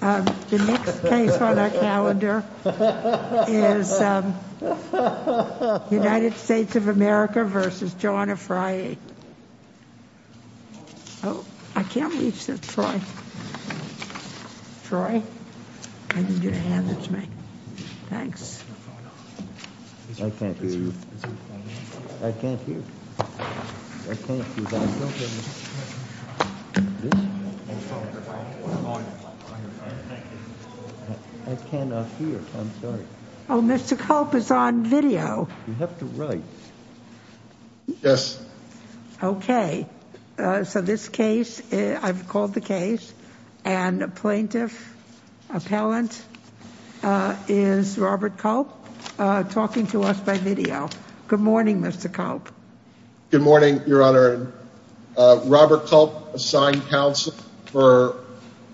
The next case on our calendar is United States of America v. John Afriyie. Oh, I can't reach that, Troy. Troy, I need you to hand it to me. Thanks. I can't hear you. I can't hear. I cannot hear. I'm sorry. Oh, Mr. Cope is on video. You have to write. Yes. OK, so this case, I've called the case and the plaintiff appellant is Robert Culp talking to us by video. Good morning, Mr. Culp. Good morning, Your Honor. Robert Culp assigned counsel for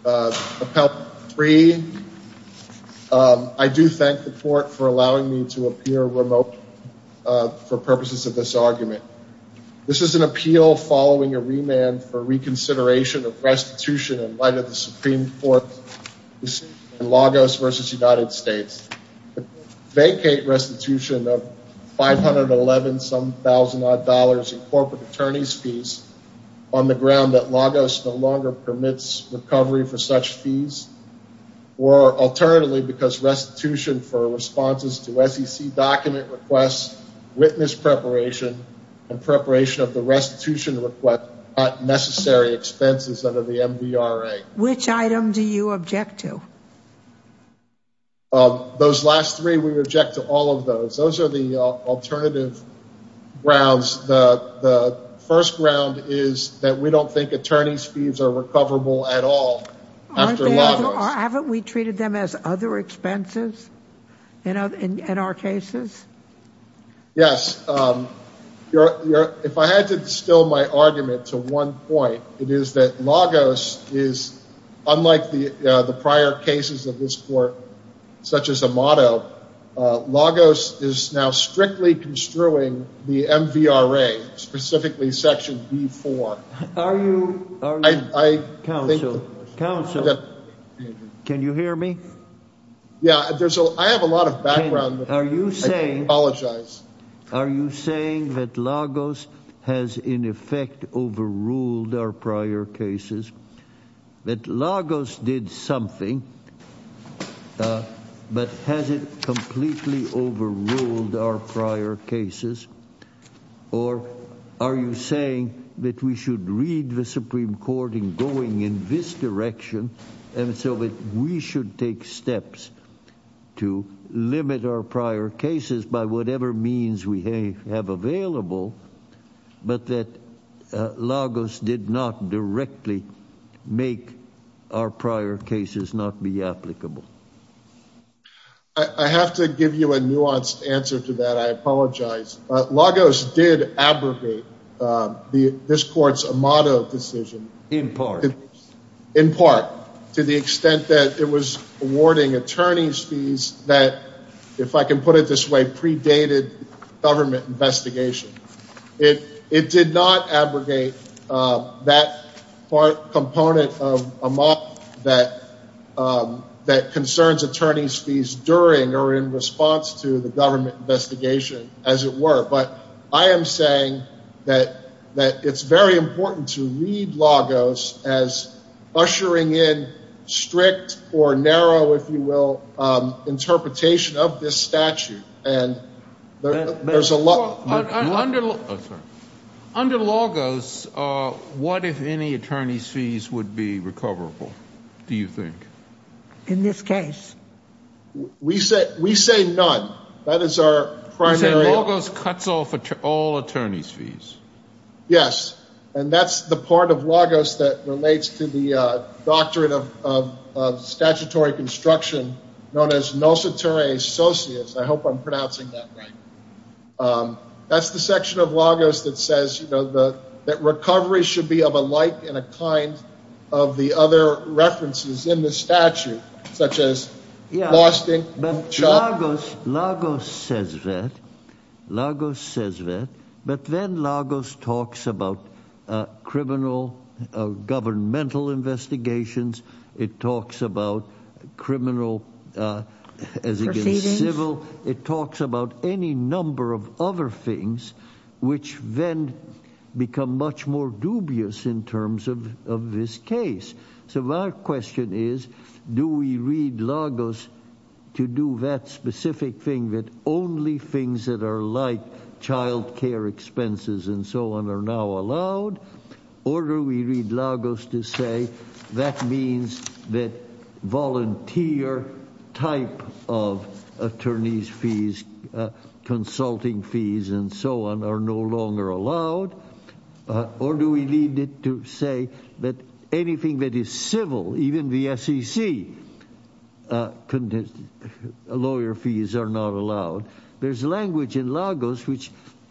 Appellant 3. I do thank the court for allowing me to appear remote for purposes of this argument. This is an appeal following a remand for reconsideration of restitution in light of the Supreme Court decision in Lagos v. United States. Vacate restitution of $511-some-thousand-odd dollars in corporate attorney's fees on the ground that Lagos no longer permits recovery for such fees. Or alternatively, because restitution for responses to SEC document requests, witness preparation, and preparation of the restitution request are not necessary expenses under the MVRA. Which item do you object to? Those last three, we object to all of those. Those are the alternative grounds. The first ground is that we don't think attorney's fees are recoverable at all after Lagos. Haven't we treated them as other expenses in our cases? Yes. If I had to distill my argument to one point, it is that Lagos is, unlike the prior cases of this court, such as Amato, Lagos is now strictly construing the MVRA, specifically Section B-4. Are you, counsel, counsel, can you hear me? Yeah, I have a lot of background. I apologize. Are you saying that Lagos has, in effect, overruled our prior cases? That Lagos did something, but has it completely overruled our prior cases? Or are you saying that we should read the Supreme Court in going in this direction, and so that we should take steps to limit our prior cases by whatever means we have available, but that Lagos did not directly make our prior cases not be applicable? I have to give you a nuanced answer to that. I apologize. Lagos did abrogate this court's Amato decision. In part. In part, to the extent that it was awarding attorney's fees that, if I can put it this way, predated government investigation. It did not abrogate that part component of Amato that concerns attorney's fees during or in response to the government investigation, as it were. But I am saying that it's very important to read Lagos as ushering in strict or narrow, if you will, interpretation of this statute. Under Lagos, what, if any, attorney's fees would be recoverable, do you think? In this case? We say none. That is our primary… You say Lagos cuts off all attorney's fees. Yes, and that's the part of Lagos that relates to the Doctrine of Statutory Construction, known as Nosotere Socius. I hope I'm pronouncing that right. That's the section of Lagos that says, you know, that recovery should be of a like and a kind of the other references in the statute, such as… Lagos says that, but then Lagos talks about criminal governmental investigations. It talks about criminal as against civil. It talks about any number of other things, which then become much more dubious in terms of this case. So my question is, do we read Lagos to do that specific thing that only things that are like child care expenses and so on are now allowed? Or do we read Lagos to say that means that volunteer type of attorney's fees, consulting fees, and so on are no longer allowed? Or do we need it to say that anything that is civil, even the SEC lawyer fees are not allowed? There's language in Lagos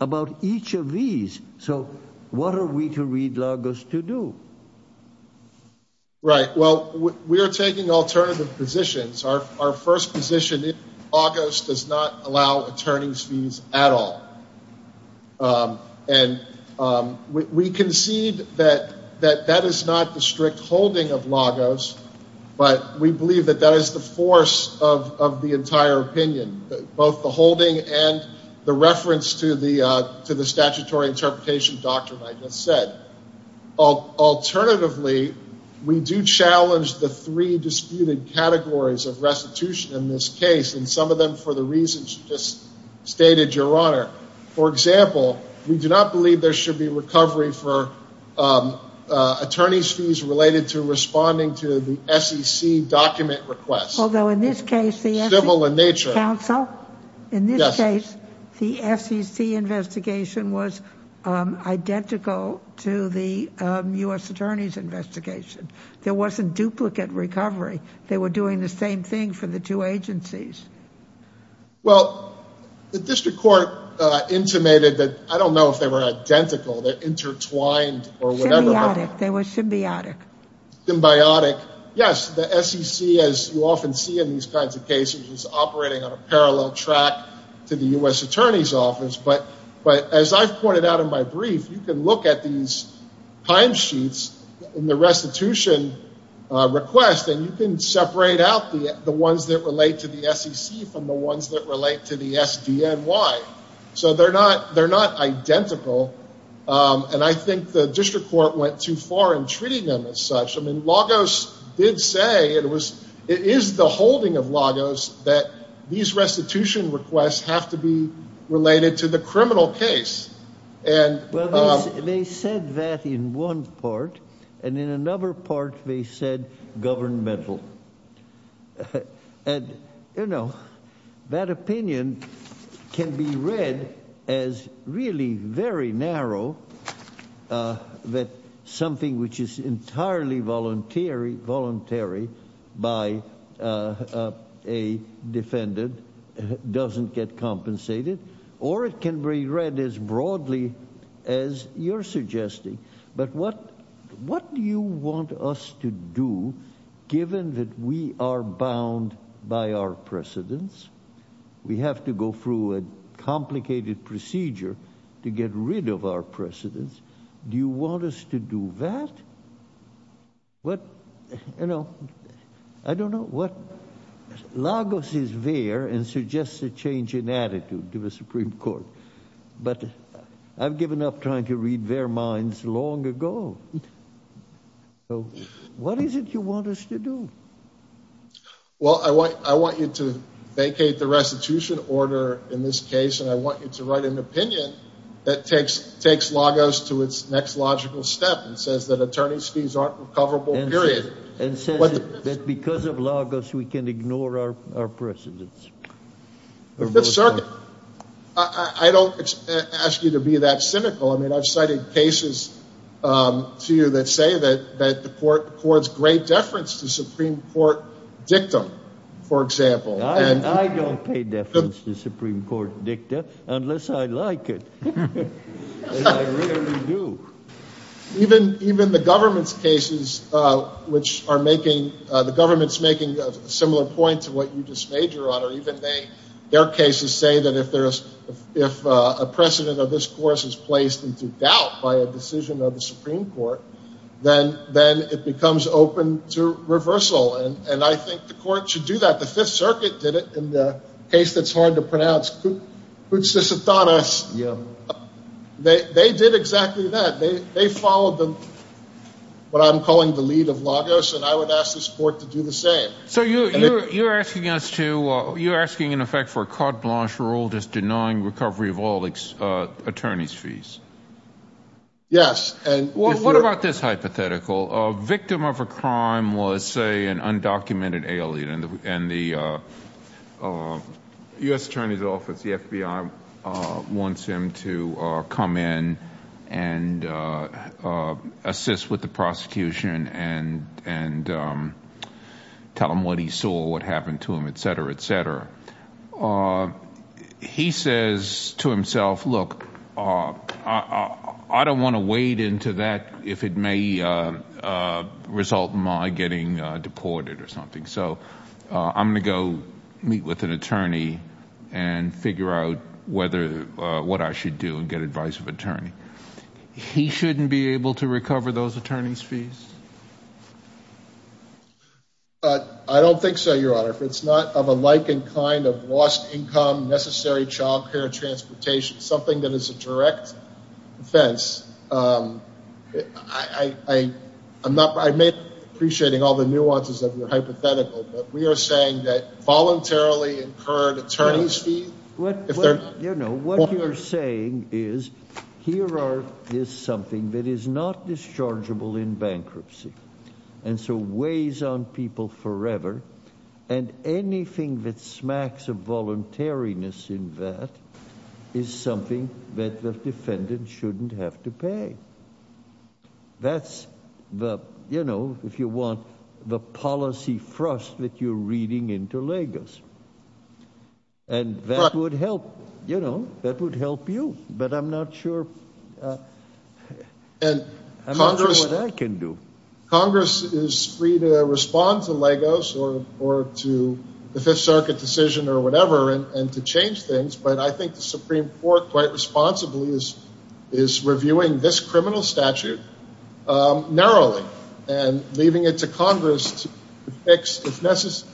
about each of these. So what are we to read Lagos to do? Right. Well, we are taking alternative positions. Our first position is Lagos does not allow attorney's fees at all. And we concede that that is not the strict holding of Lagos, but we believe that that is the force of the entire opinion, both the holding and the reference to the statutory interpretation doctrine I just said. Alternatively, we do challenge the three disputed categories of restitution in this case, and some of them for the reasons you just stated, Your Honor. For example, we do not believe there should be recovery for attorney's fees related to responding to the SEC document request. Although in this case, the SEC counsel, in this case, the SEC investigation was identical to the U.S. Attorney's investigation. There wasn't duplicate recovery. They were doing the same thing for the two agencies. Well, the district court intimated that I don't know if they were identical. They're intertwined or whatever. Symbiotic. They were symbiotic. Symbiotic. Yes. The SEC, as you often see in these kinds of cases, is operating on a parallel track to the U.S. Attorney's office. But as I've pointed out in my brief, you can look at these timesheets in the restitution request, and you can separate out the ones that relate to the SEC from the ones that relate to the SDNY. So they're not identical, and I think the district court went too far in treating them as such. I mean, Lagos did say it is the holding of Lagos that these restitution requests have to be related to the criminal case. Well, they said that in one part, and in another part they said governmental. And, you know, that opinion can be read as really very narrow, that something which is entirely voluntary by a defendant doesn't get compensated. Or it can be read as broadly as you're suggesting. But what do you want us to do, given that we are bound by our precedents? We have to go through a complicated procedure to get rid of our precedents. Do you want us to do that? What, you know, I don't know what, Lagos is there and suggests a change in attitude to the Supreme Court. But I've given up trying to read their minds long ago. So what is it you want us to do? Well, I want you to vacate the restitution order in this case, and I want you to write an opinion that takes Lagos to its next logical step and says that attorney's fees aren't recoverable, period. And says that because of Lagos we can ignore our precedents. The Fifth Circuit, I don't ask you to be that cynical. I mean, I've cited cases to you that say that the court records great deference to Supreme Court dictum, for example. I don't pay deference to Supreme Court dictum unless I like it, and I really do. Even the government's cases which are making, the government's making a similar point to what you just made, Your Honor. Even their cases say that if a precedent of this course is placed into doubt by a decision of the Supreme Court, then it becomes open to reversal. And I think the court should do that. The Fifth Circuit did it in the case that's hard to pronounce, Cutsis Athanas. They did exactly that. They followed what I'm calling the lead of Lagos, and I would ask this court to do the same. So you're asking us to, you're asking in effect for a carte blanche rule just denying recovery of all attorney's fees. Yes. Well, what about this hypothetical? A victim of a crime was, say, an undocumented alien, and the U.S. Attorney's Office, the FBI, wants him to come in and assist with the prosecution and tell him what he saw, what happened to him, et cetera, et cetera. He says to himself, look, I don't want to wade into that if it may result in my getting deported or something, so I'm going to go meet with an attorney and figure out what I should do and get advice from an attorney. He shouldn't be able to recover those attorney's fees? I don't think so, Your Honor. If it's not of a likened kind of lost income, necessary child care, transportation, something that is a direct offense, I'm not, I may be appreciating all the nuances of your hypothetical, but we are saying that voluntarily incurred attorney's fees. What you're saying is here is something that is not dischargeable in bankruptcy and so weighs on people forever, and anything that smacks of voluntariness in that is something that the defendant shouldn't have to pay. That's the, you know, if you want, the policy thrust that you're reading into Lagos, and that would help, you know, that would help you, but I'm not sure, I'm not sure what I can do. Congress is free to respond to Lagos or to the Fifth Circuit decision or whatever and to change things, but I think the Supreme Court quite responsibly is reviewing this criminal statute narrowly and leaving it to Congress to fix if necessary.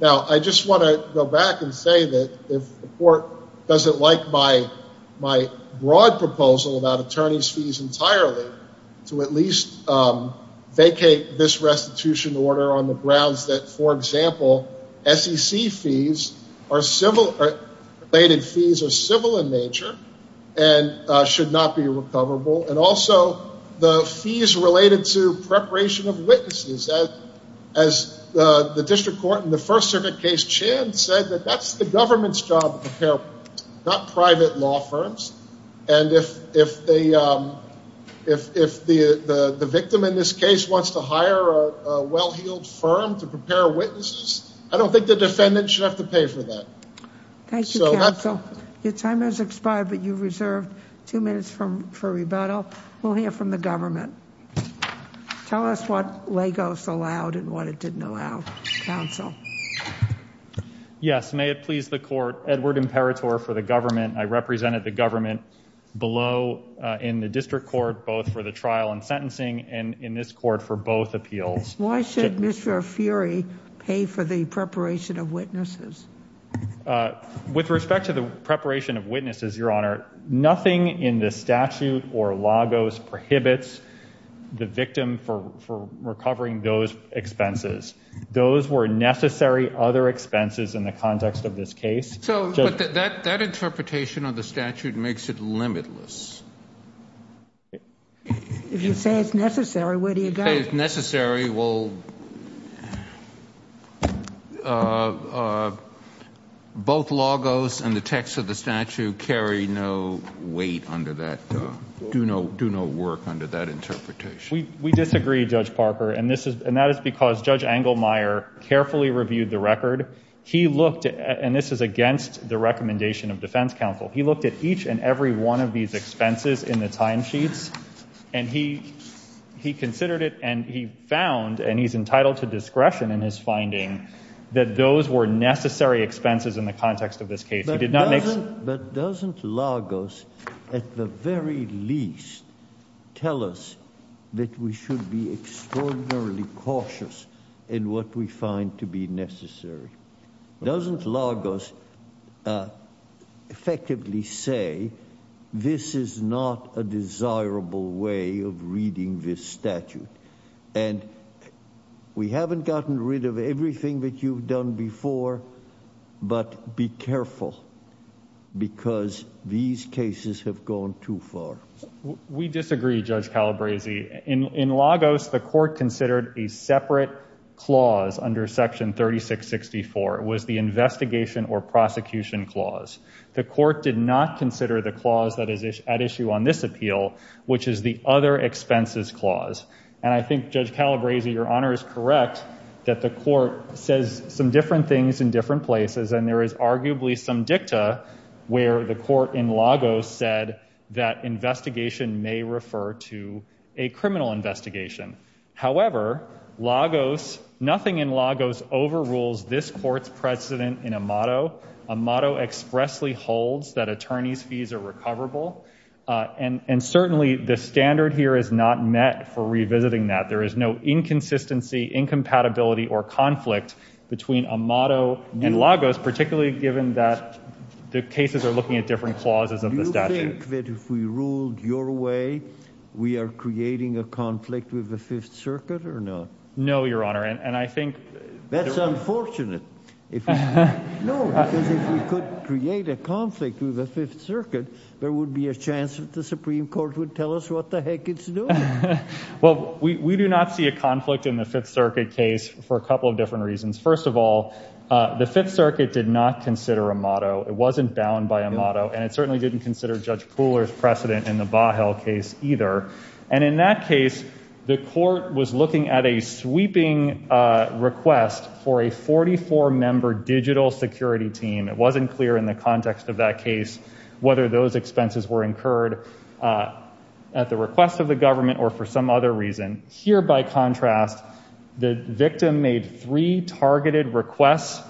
Now, I just want to go back and say that if the court doesn't like my broad proposal about attorney's fees entirely, to at least vacate this restitution order on the grounds that, for example, SEC fees are civil, related fees are civil in nature and should not be recoverable, and also the fees related to preparation of witnesses. As the district court in the First Circuit case, Chan, said that that's the government's job to prepare, not private law firms, and if the victim in this case wants to hire a well-heeled firm to prepare witnesses, I don't think the defendant should have to pay for that. Thank you, counsel. Your time has expired, but you've reserved two minutes for rebuttal. We'll hear from the government. Tell us what Lagos allowed and what it didn't allow, counsel. Yes, may it please the court. Edward Imperatore for the government. I represented the government below in the district court, both for the trial and sentencing, and in this court for both appeals. Why should Mr. Furey pay for the preparation of witnesses? With respect to the preparation of witnesses, Your Honor, nothing in the statute or Lagos prohibits the victim from recovering those expenses. Those were necessary other expenses in the context of this case. But that interpretation of the statute makes it limitless. If you say it's necessary, where do you go? If necessary, both Lagos and the text of the statute carry no weight under that, do no work under that interpretation. We disagree, Judge Parker, and that is because Judge Engelmeyer carefully reviewed the record. He looked, and this is against the recommendation of defense counsel, he looked at each and every one of these expenses in the timesheets, and he considered it and he found, and he's entitled to discretion in his finding, that those were necessary expenses in the context of this case. But doesn't Lagos, at the very least, tell us that we should be extraordinarily cautious in what we find to be necessary? Doesn't Lagos effectively say this is not a desirable way of reading this statute? And we haven't gotten rid of everything that you've done before, but be careful because these cases have gone too far. We disagree, Judge Calabresi. In Lagos, the court considered a separate clause under Section 3664. It was the investigation or prosecution clause. The court did not consider the clause that is at issue on this appeal, which is the other expenses clause. And I think, Judge Calabresi, your honor is correct that the court says some different things in different places, and there is arguably some dicta where the court in Lagos said that investigation may refer to a criminal investigation. However, nothing in Lagos overrules this court's precedent in Amado. Amado expressly holds that attorneys' fees are recoverable, and certainly the standard here is not met for revisiting that. There is no inconsistency, incompatibility, or conflict between Amado and Lagos, particularly given that the cases are looking at different clauses of the statute. Do you think that if we ruled your way, we are creating a conflict with the Fifth Circuit or not? No, your honor, and I think— That's unfortunate. No, because if we could create a conflict with the Fifth Circuit, there would be a chance that the Supreme Court would tell us what the heck it's doing. Well, we do not see a conflict in the Fifth Circuit case for a couple of different reasons. First of all, the Fifth Circuit did not consider Amado. It wasn't bound by Amado, and it certainly didn't consider Judge Pooler's precedent in the Bahel case either. And in that case, the court was looking at a sweeping request for a 44-member digital security team. It wasn't clear in the context of that case whether those expenses were incurred at the request of the government or for some other reason. Here, by contrast, the victim made three targeted requests.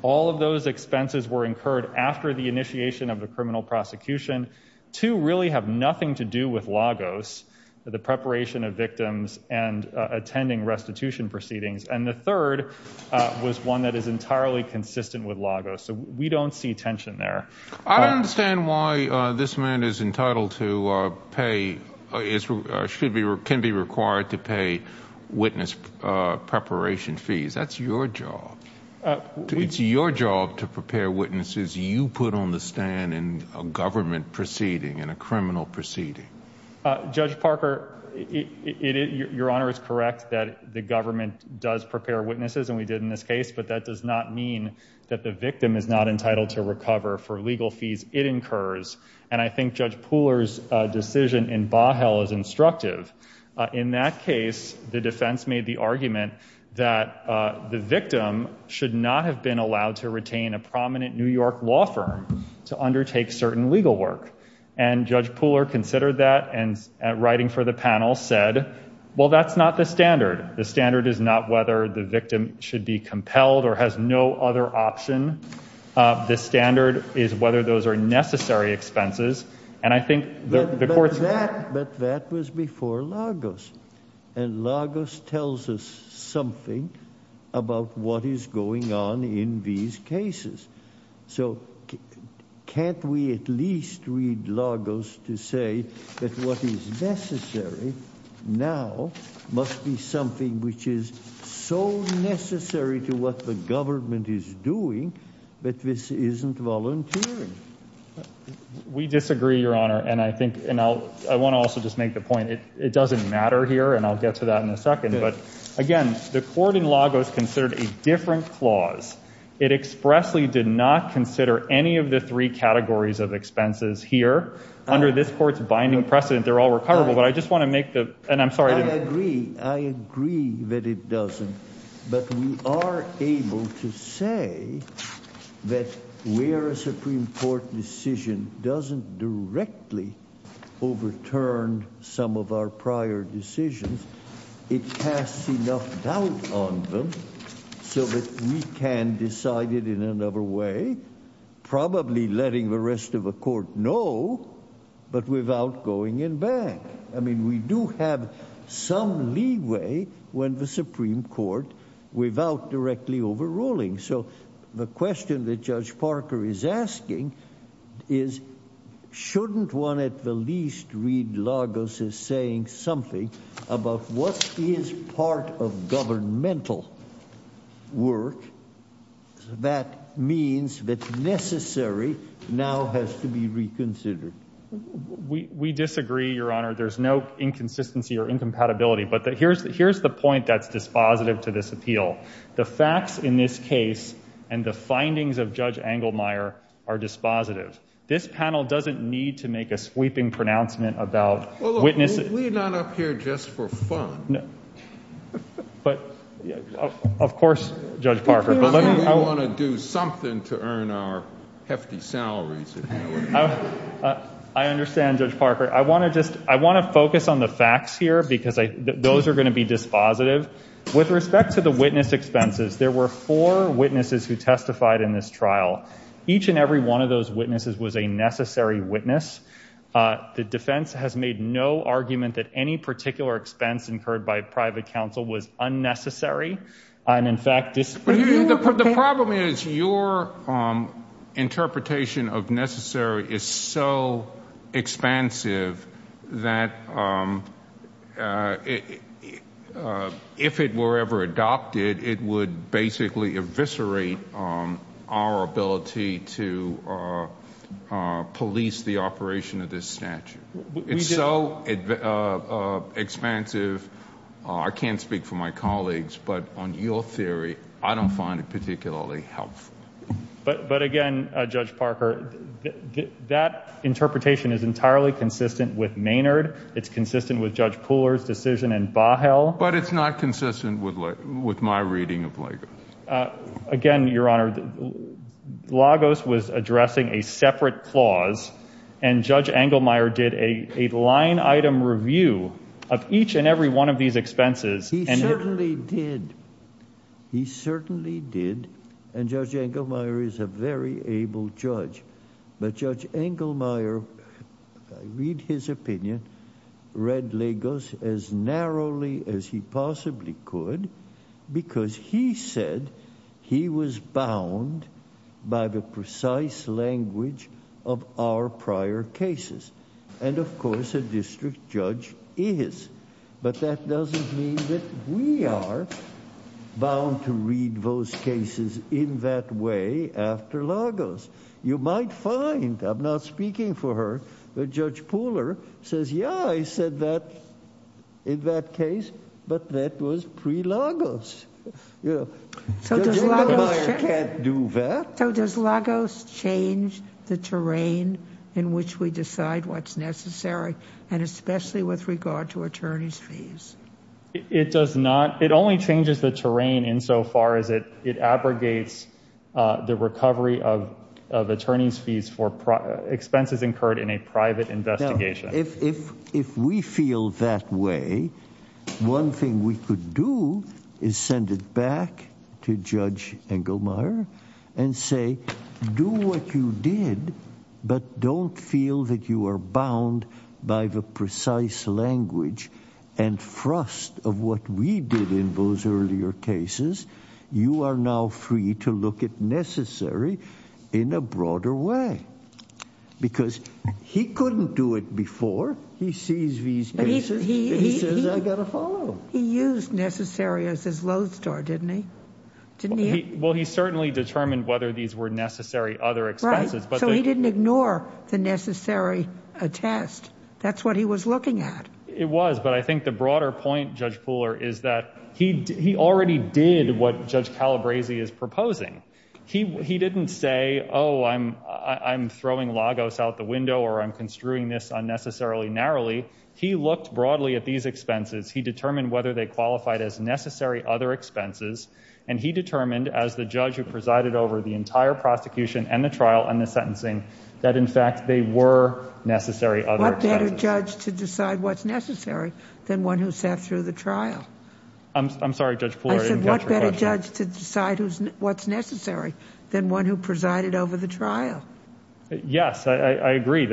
All of those expenses were incurred after the initiation of the criminal prosecution. Two really have nothing to do with Lagos, the preparation of victims and attending restitution proceedings. And the third was one that is entirely consistent with Lagos. So we don't see tension there. I don't understand why this man is entitled to pay—can be required to pay witness preparation fees. That's your job. It's your job to prepare witnesses you put on the stand in a government proceeding, in a criminal proceeding. Judge Parker, Your Honor is correct that the government does prepare witnesses, and we did in this case, but that does not mean that the victim is not entitled to recover for legal fees it incurs. And I think Judge Pooler's decision in Bahel is instructive. In that case, the defense made the argument that the victim should not have been allowed to retain a prominent New York law firm to undertake certain legal work. And Judge Pooler considered that and, writing for the panel, said, well, that's not the standard. The standard is not whether the victim should be compelled or has no other option. The standard is whether those are necessary expenses. And I think the court's— But that was before Lagos. And Lagos tells us something about what is going on in these cases. So can't we at least read Lagos to say that what is necessary now must be something which is so necessary to what the government is doing that this isn't volunteering? We disagree, Your Honor. And I think—and I want to also just make the point it doesn't matter here, and I'll get to that in a second. But, again, the court in Lagos considered a different clause. It expressly did not consider any of the three categories of expenses here. Under this court's binding precedent, they're all recoverable. But I just want to make the—and I'm sorry to— I agree. I agree that it doesn't. But we are able to say that where a Supreme Court decision doesn't directly overturn some of our prior decisions, it casts enough doubt on them so that we can decide it in another way, probably letting the rest of the court know, but without going in back. I mean, we do have some leeway when the Supreme Court without directly overruling. So the question that Judge Parker is asking is shouldn't one at the least read Lagos as saying something about what is part of governmental work that means that necessary now has to be reconsidered? We disagree, Your Honor. There's no inconsistency or incompatibility. But here's the point that's dispositive to this appeal. The facts in this case and the findings of Judge Engelmeyer are dispositive. This panel doesn't need to make a sweeping pronouncement about witnesses— Well, look, we're not up here just for fun. But, of course, Judge Parker, but let me— We want to do something to earn our hefty salaries. I understand, Judge Parker. I want to focus on the facts here because those are going to be dispositive. With respect to the witness expenses, there were four witnesses who testified in this trial. Each and every one of those witnesses was a necessary witness. The defense has made no argument that any particular expense incurred by private counsel was unnecessary and, in fact— The problem is your interpretation of necessary is so expansive that if it were ever adopted, it would basically eviscerate our ability to police the operation of this statute. It's so expansive, I can't speak for my colleagues, but on your theory, I don't find it particularly helpful. But, again, Judge Parker, that interpretation is entirely consistent with Maynard. It's consistent with Judge Pooler's decision in Bahel. But it's not consistent with my reading of Lagos. Again, Your Honor, Lagos was addressing a separate clause, and Judge Engelmeyer did a line-item review of each and every one of these expenses. He certainly did. He certainly did, and Judge Engelmeyer is a very able judge. But Judge Engelmeyer, if I read his opinion, read Lagos as narrowly as he possibly could because he said he was bound by the precise language of our prior cases. And, of course, a district judge is. But that doesn't mean that we are bound to read those cases in that way after Lagos. You might find, I'm not speaking for her, that Judge Pooler says, yeah, I said that in that case, but that was pre-Lagos. Judge Engelmeyer can't do that. So does Lagos change the terrain in which we decide what's necessary, and especially with regard to attorney's fees? It does not. It only changes the terrain insofar as it abrogates the recovery of attorney's fees for expenses incurred in a private investigation. If we feel that way, one thing we could do is send it back to Judge Engelmeyer and say, do what you did, but don't feel that you are bound by the precise language and thrust of what we did in those earlier cases. You are now free to look at necessary in a broader way. Because he couldn't do it before. He sees these cases. He says, I got to follow. He used necessary as his lodestar, didn't he? Didn't he? Well, he certainly determined whether these were necessary other expenses. Right. So he didn't ignore the necessary attest. That's what he was looking at. It was, but I think the broader point, Judge Pooler, is that he already did what Judge Calabresi is proposing. He didn't say, oh, I'm throwing Lagos out the window or I'm construing this unnecessarily narrowly. He looked broadly at these expenses. He determined whether they qualified as necessary other expenses. And he determined, as the judge who presided over the entire prosecution and the trial and the sentencing, that, in fact, they were necessary other expenses. What better judge to decide what's necessary than one who sat through the trial? I'm sorry, Judge Pooler. I didn't catch your question. I said, what better judge to decide what's necessary than one who presided over the trial? Yes, I agree.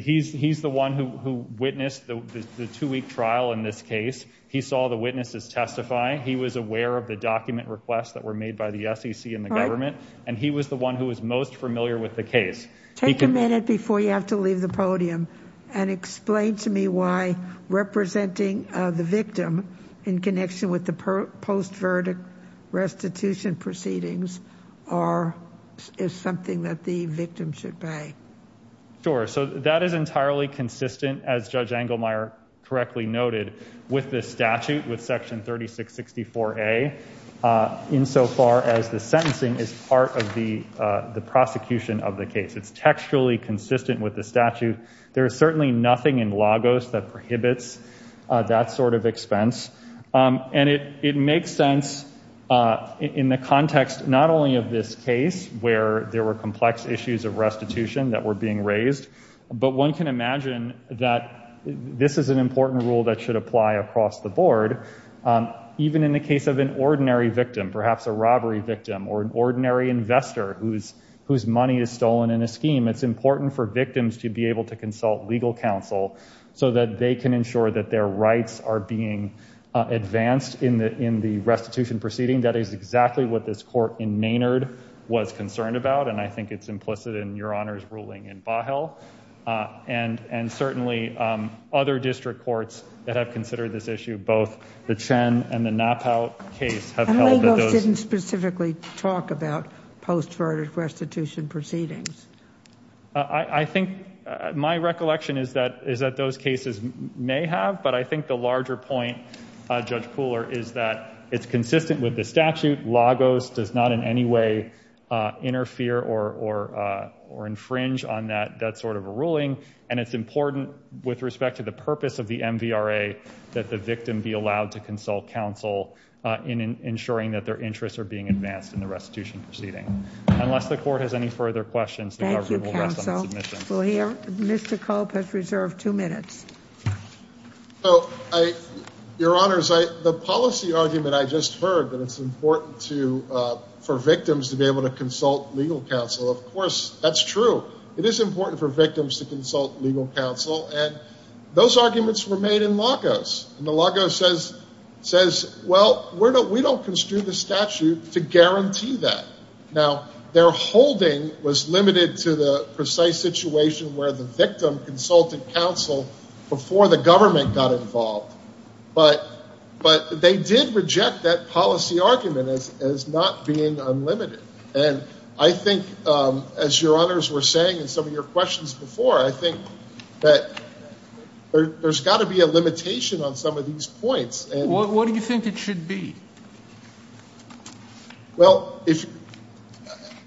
He's the one who witnessed the two-week trial in this case. He saw the witnesses testify. He was aware of the document requests that were made by the SEC and the government. And he was the one who was most familiar with the case. Take a minute before you have to leave the podium and explain to me why representing the victim in connection with the post-verdict restitution proceedings is something that the victim should pay. Sure. So that is entirely consistent, as Judge Engelmeyer correctly noted, with this statute, with Section 3664A, insofar as the sentencing is part of the prosecution of the case. It's textually consistent with the statute. There is certainly nothing in Lagos that prohibits that sort of expense. And it makes sense in the context not only of this case, where there were complex issues of restitution that were being raised, but one can imagine that this is an important rule that should apply across the board. Even in the case of an ordinary victim, perhaps a robbery victim, or an ordinary investor whose money is stolen in a scheme, it's important for victims to be able to consult legal counsel so that they can ensure that their rights are being advanced in the restitution proceeding. That is exactly what this court in Maynard was concerned about. And I think it's implicit in Your Honor's ruling in Vahel. And certainly other district courts that have considered this issue, both the Chen and the Knappout case, have held that those... And Lagos didn't specifically talk about post-verdict restitution proceedings. I think my recollection is that those cases may have, but I think the larger point, Judge Pooler, is that it's consistent with the statute. Lagos does not in any way interfere or infringe on that sort of a ruling. And it's important with respect to the purpose of the MVRA that the victim be allowed to consult counsel in ensuring that their interests are being advanced in the restitution proceeding. Unless the court has any further questions. Thank you, counsel. We'll hear... Mr. Cope has reserved two minutes. So, I... Your Honor, the policy argument I just heard, that it's important to... for victims to be able to consult legal counsel, of course, that's true. It is important for victims to consult legal counsel. And those arguments were made in Lagos. And Lagos says, well, we don't construe the statute to guarantee that. Now, their holding was limited to the precise situation where the victim consulted counsel before the government got involved. But they did reject that policy argument as not being unlimited. And I think, as Your Honors were saying in some of your questions before, I think that there's got to be a limitation on some of these points. What do you think it should be? Well, if...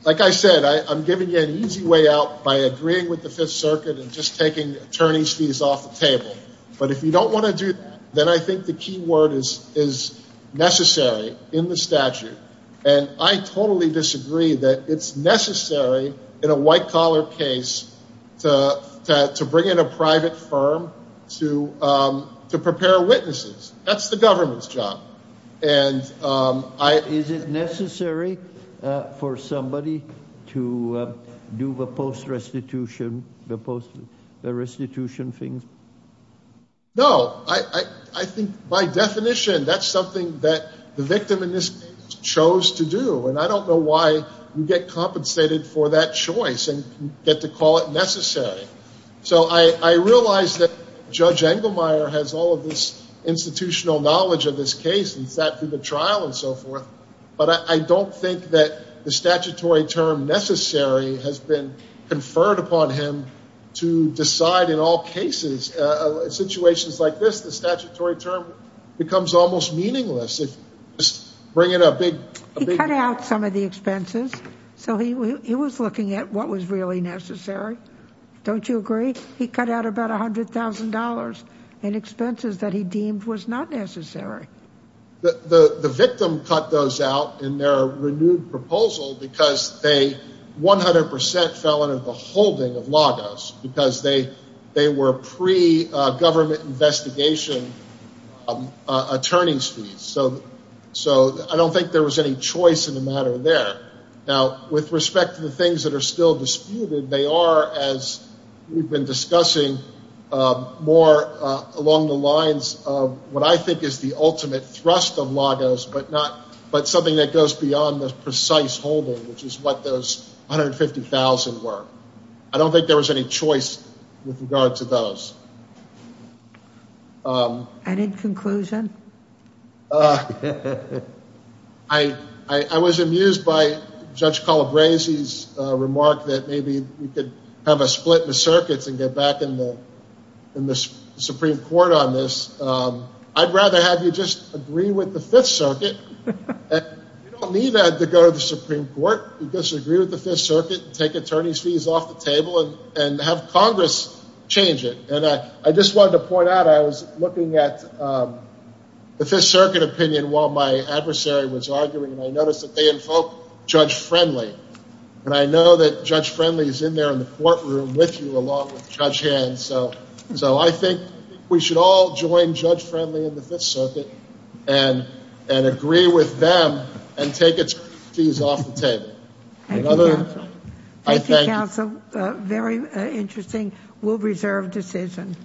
Like I said, I'm giving you an easy way out by agreeing with the Fifth Circuit and just taking attorney's fees off the table. But if you don't want to do that, then I think the key word is necessary in the statute. And I totally disagree that it's necessary in a white-collar case to bring in a private firm to prepare witnesses. That's the government's job. And I... Is it necessary for somebody to do the post-restitution things? No. I think, by definition, that's something that the victim in this case chose to do. And I don't know why you get compensated for that choice and get to call it necessary. So I realize that Judge Engelmeyer has all of this institutional knowledge of this case. He sat through the trial and so forth. But I don't think that the statutory term necessary has been conferred upon him to decide in all cases. In situations like this, the statutory term becomes almost meaningless. If you just bring in a big... He cut out some of the expenses. So he was looking at what was really necessary. Don't you agree? He cut out about $100,000 in expenses that he deemed was not necessary. The victim cut those out in their renewed proposal because they 100 percent fell under the holding of Lagos. Because they were pre-government investigation attorneys fees. So I don't think there was any choice in the matter there. Now, with respect to the things that are still disputed, they are, as we've been discussing, more along the lines of what I think is the ultimate thrust of Lagos, but something that goes beyond the precise holding, which is what those $150,000 were. I don't think there was any choice with regard to those. Any conclusion? I was amused by Judge Calabresi's remark that maybe we could have a split in the circuits and get back in the Supreme Court on this. I'd rather have you just agree with the Fifth Circuit. You don't need to go to the Supreme Court. You just agree with the Fifth Circuit and take attorney's fees off the table and have Congress change it. And I just wanted to point out I was looking at the Fifth Circuit opinion while my adversary was arguing, and I noticed that they invoked Judge Friendly. And I know that Judge Friendly is in there in the courtroom with you along with Judge Hand. So I think we should all join Judge Friendly and the Fifth Circuit and agree with them and take its fees off the table. Thank you, Counsel. Thank you, Counsel. Very interesting. We'll reserve decision.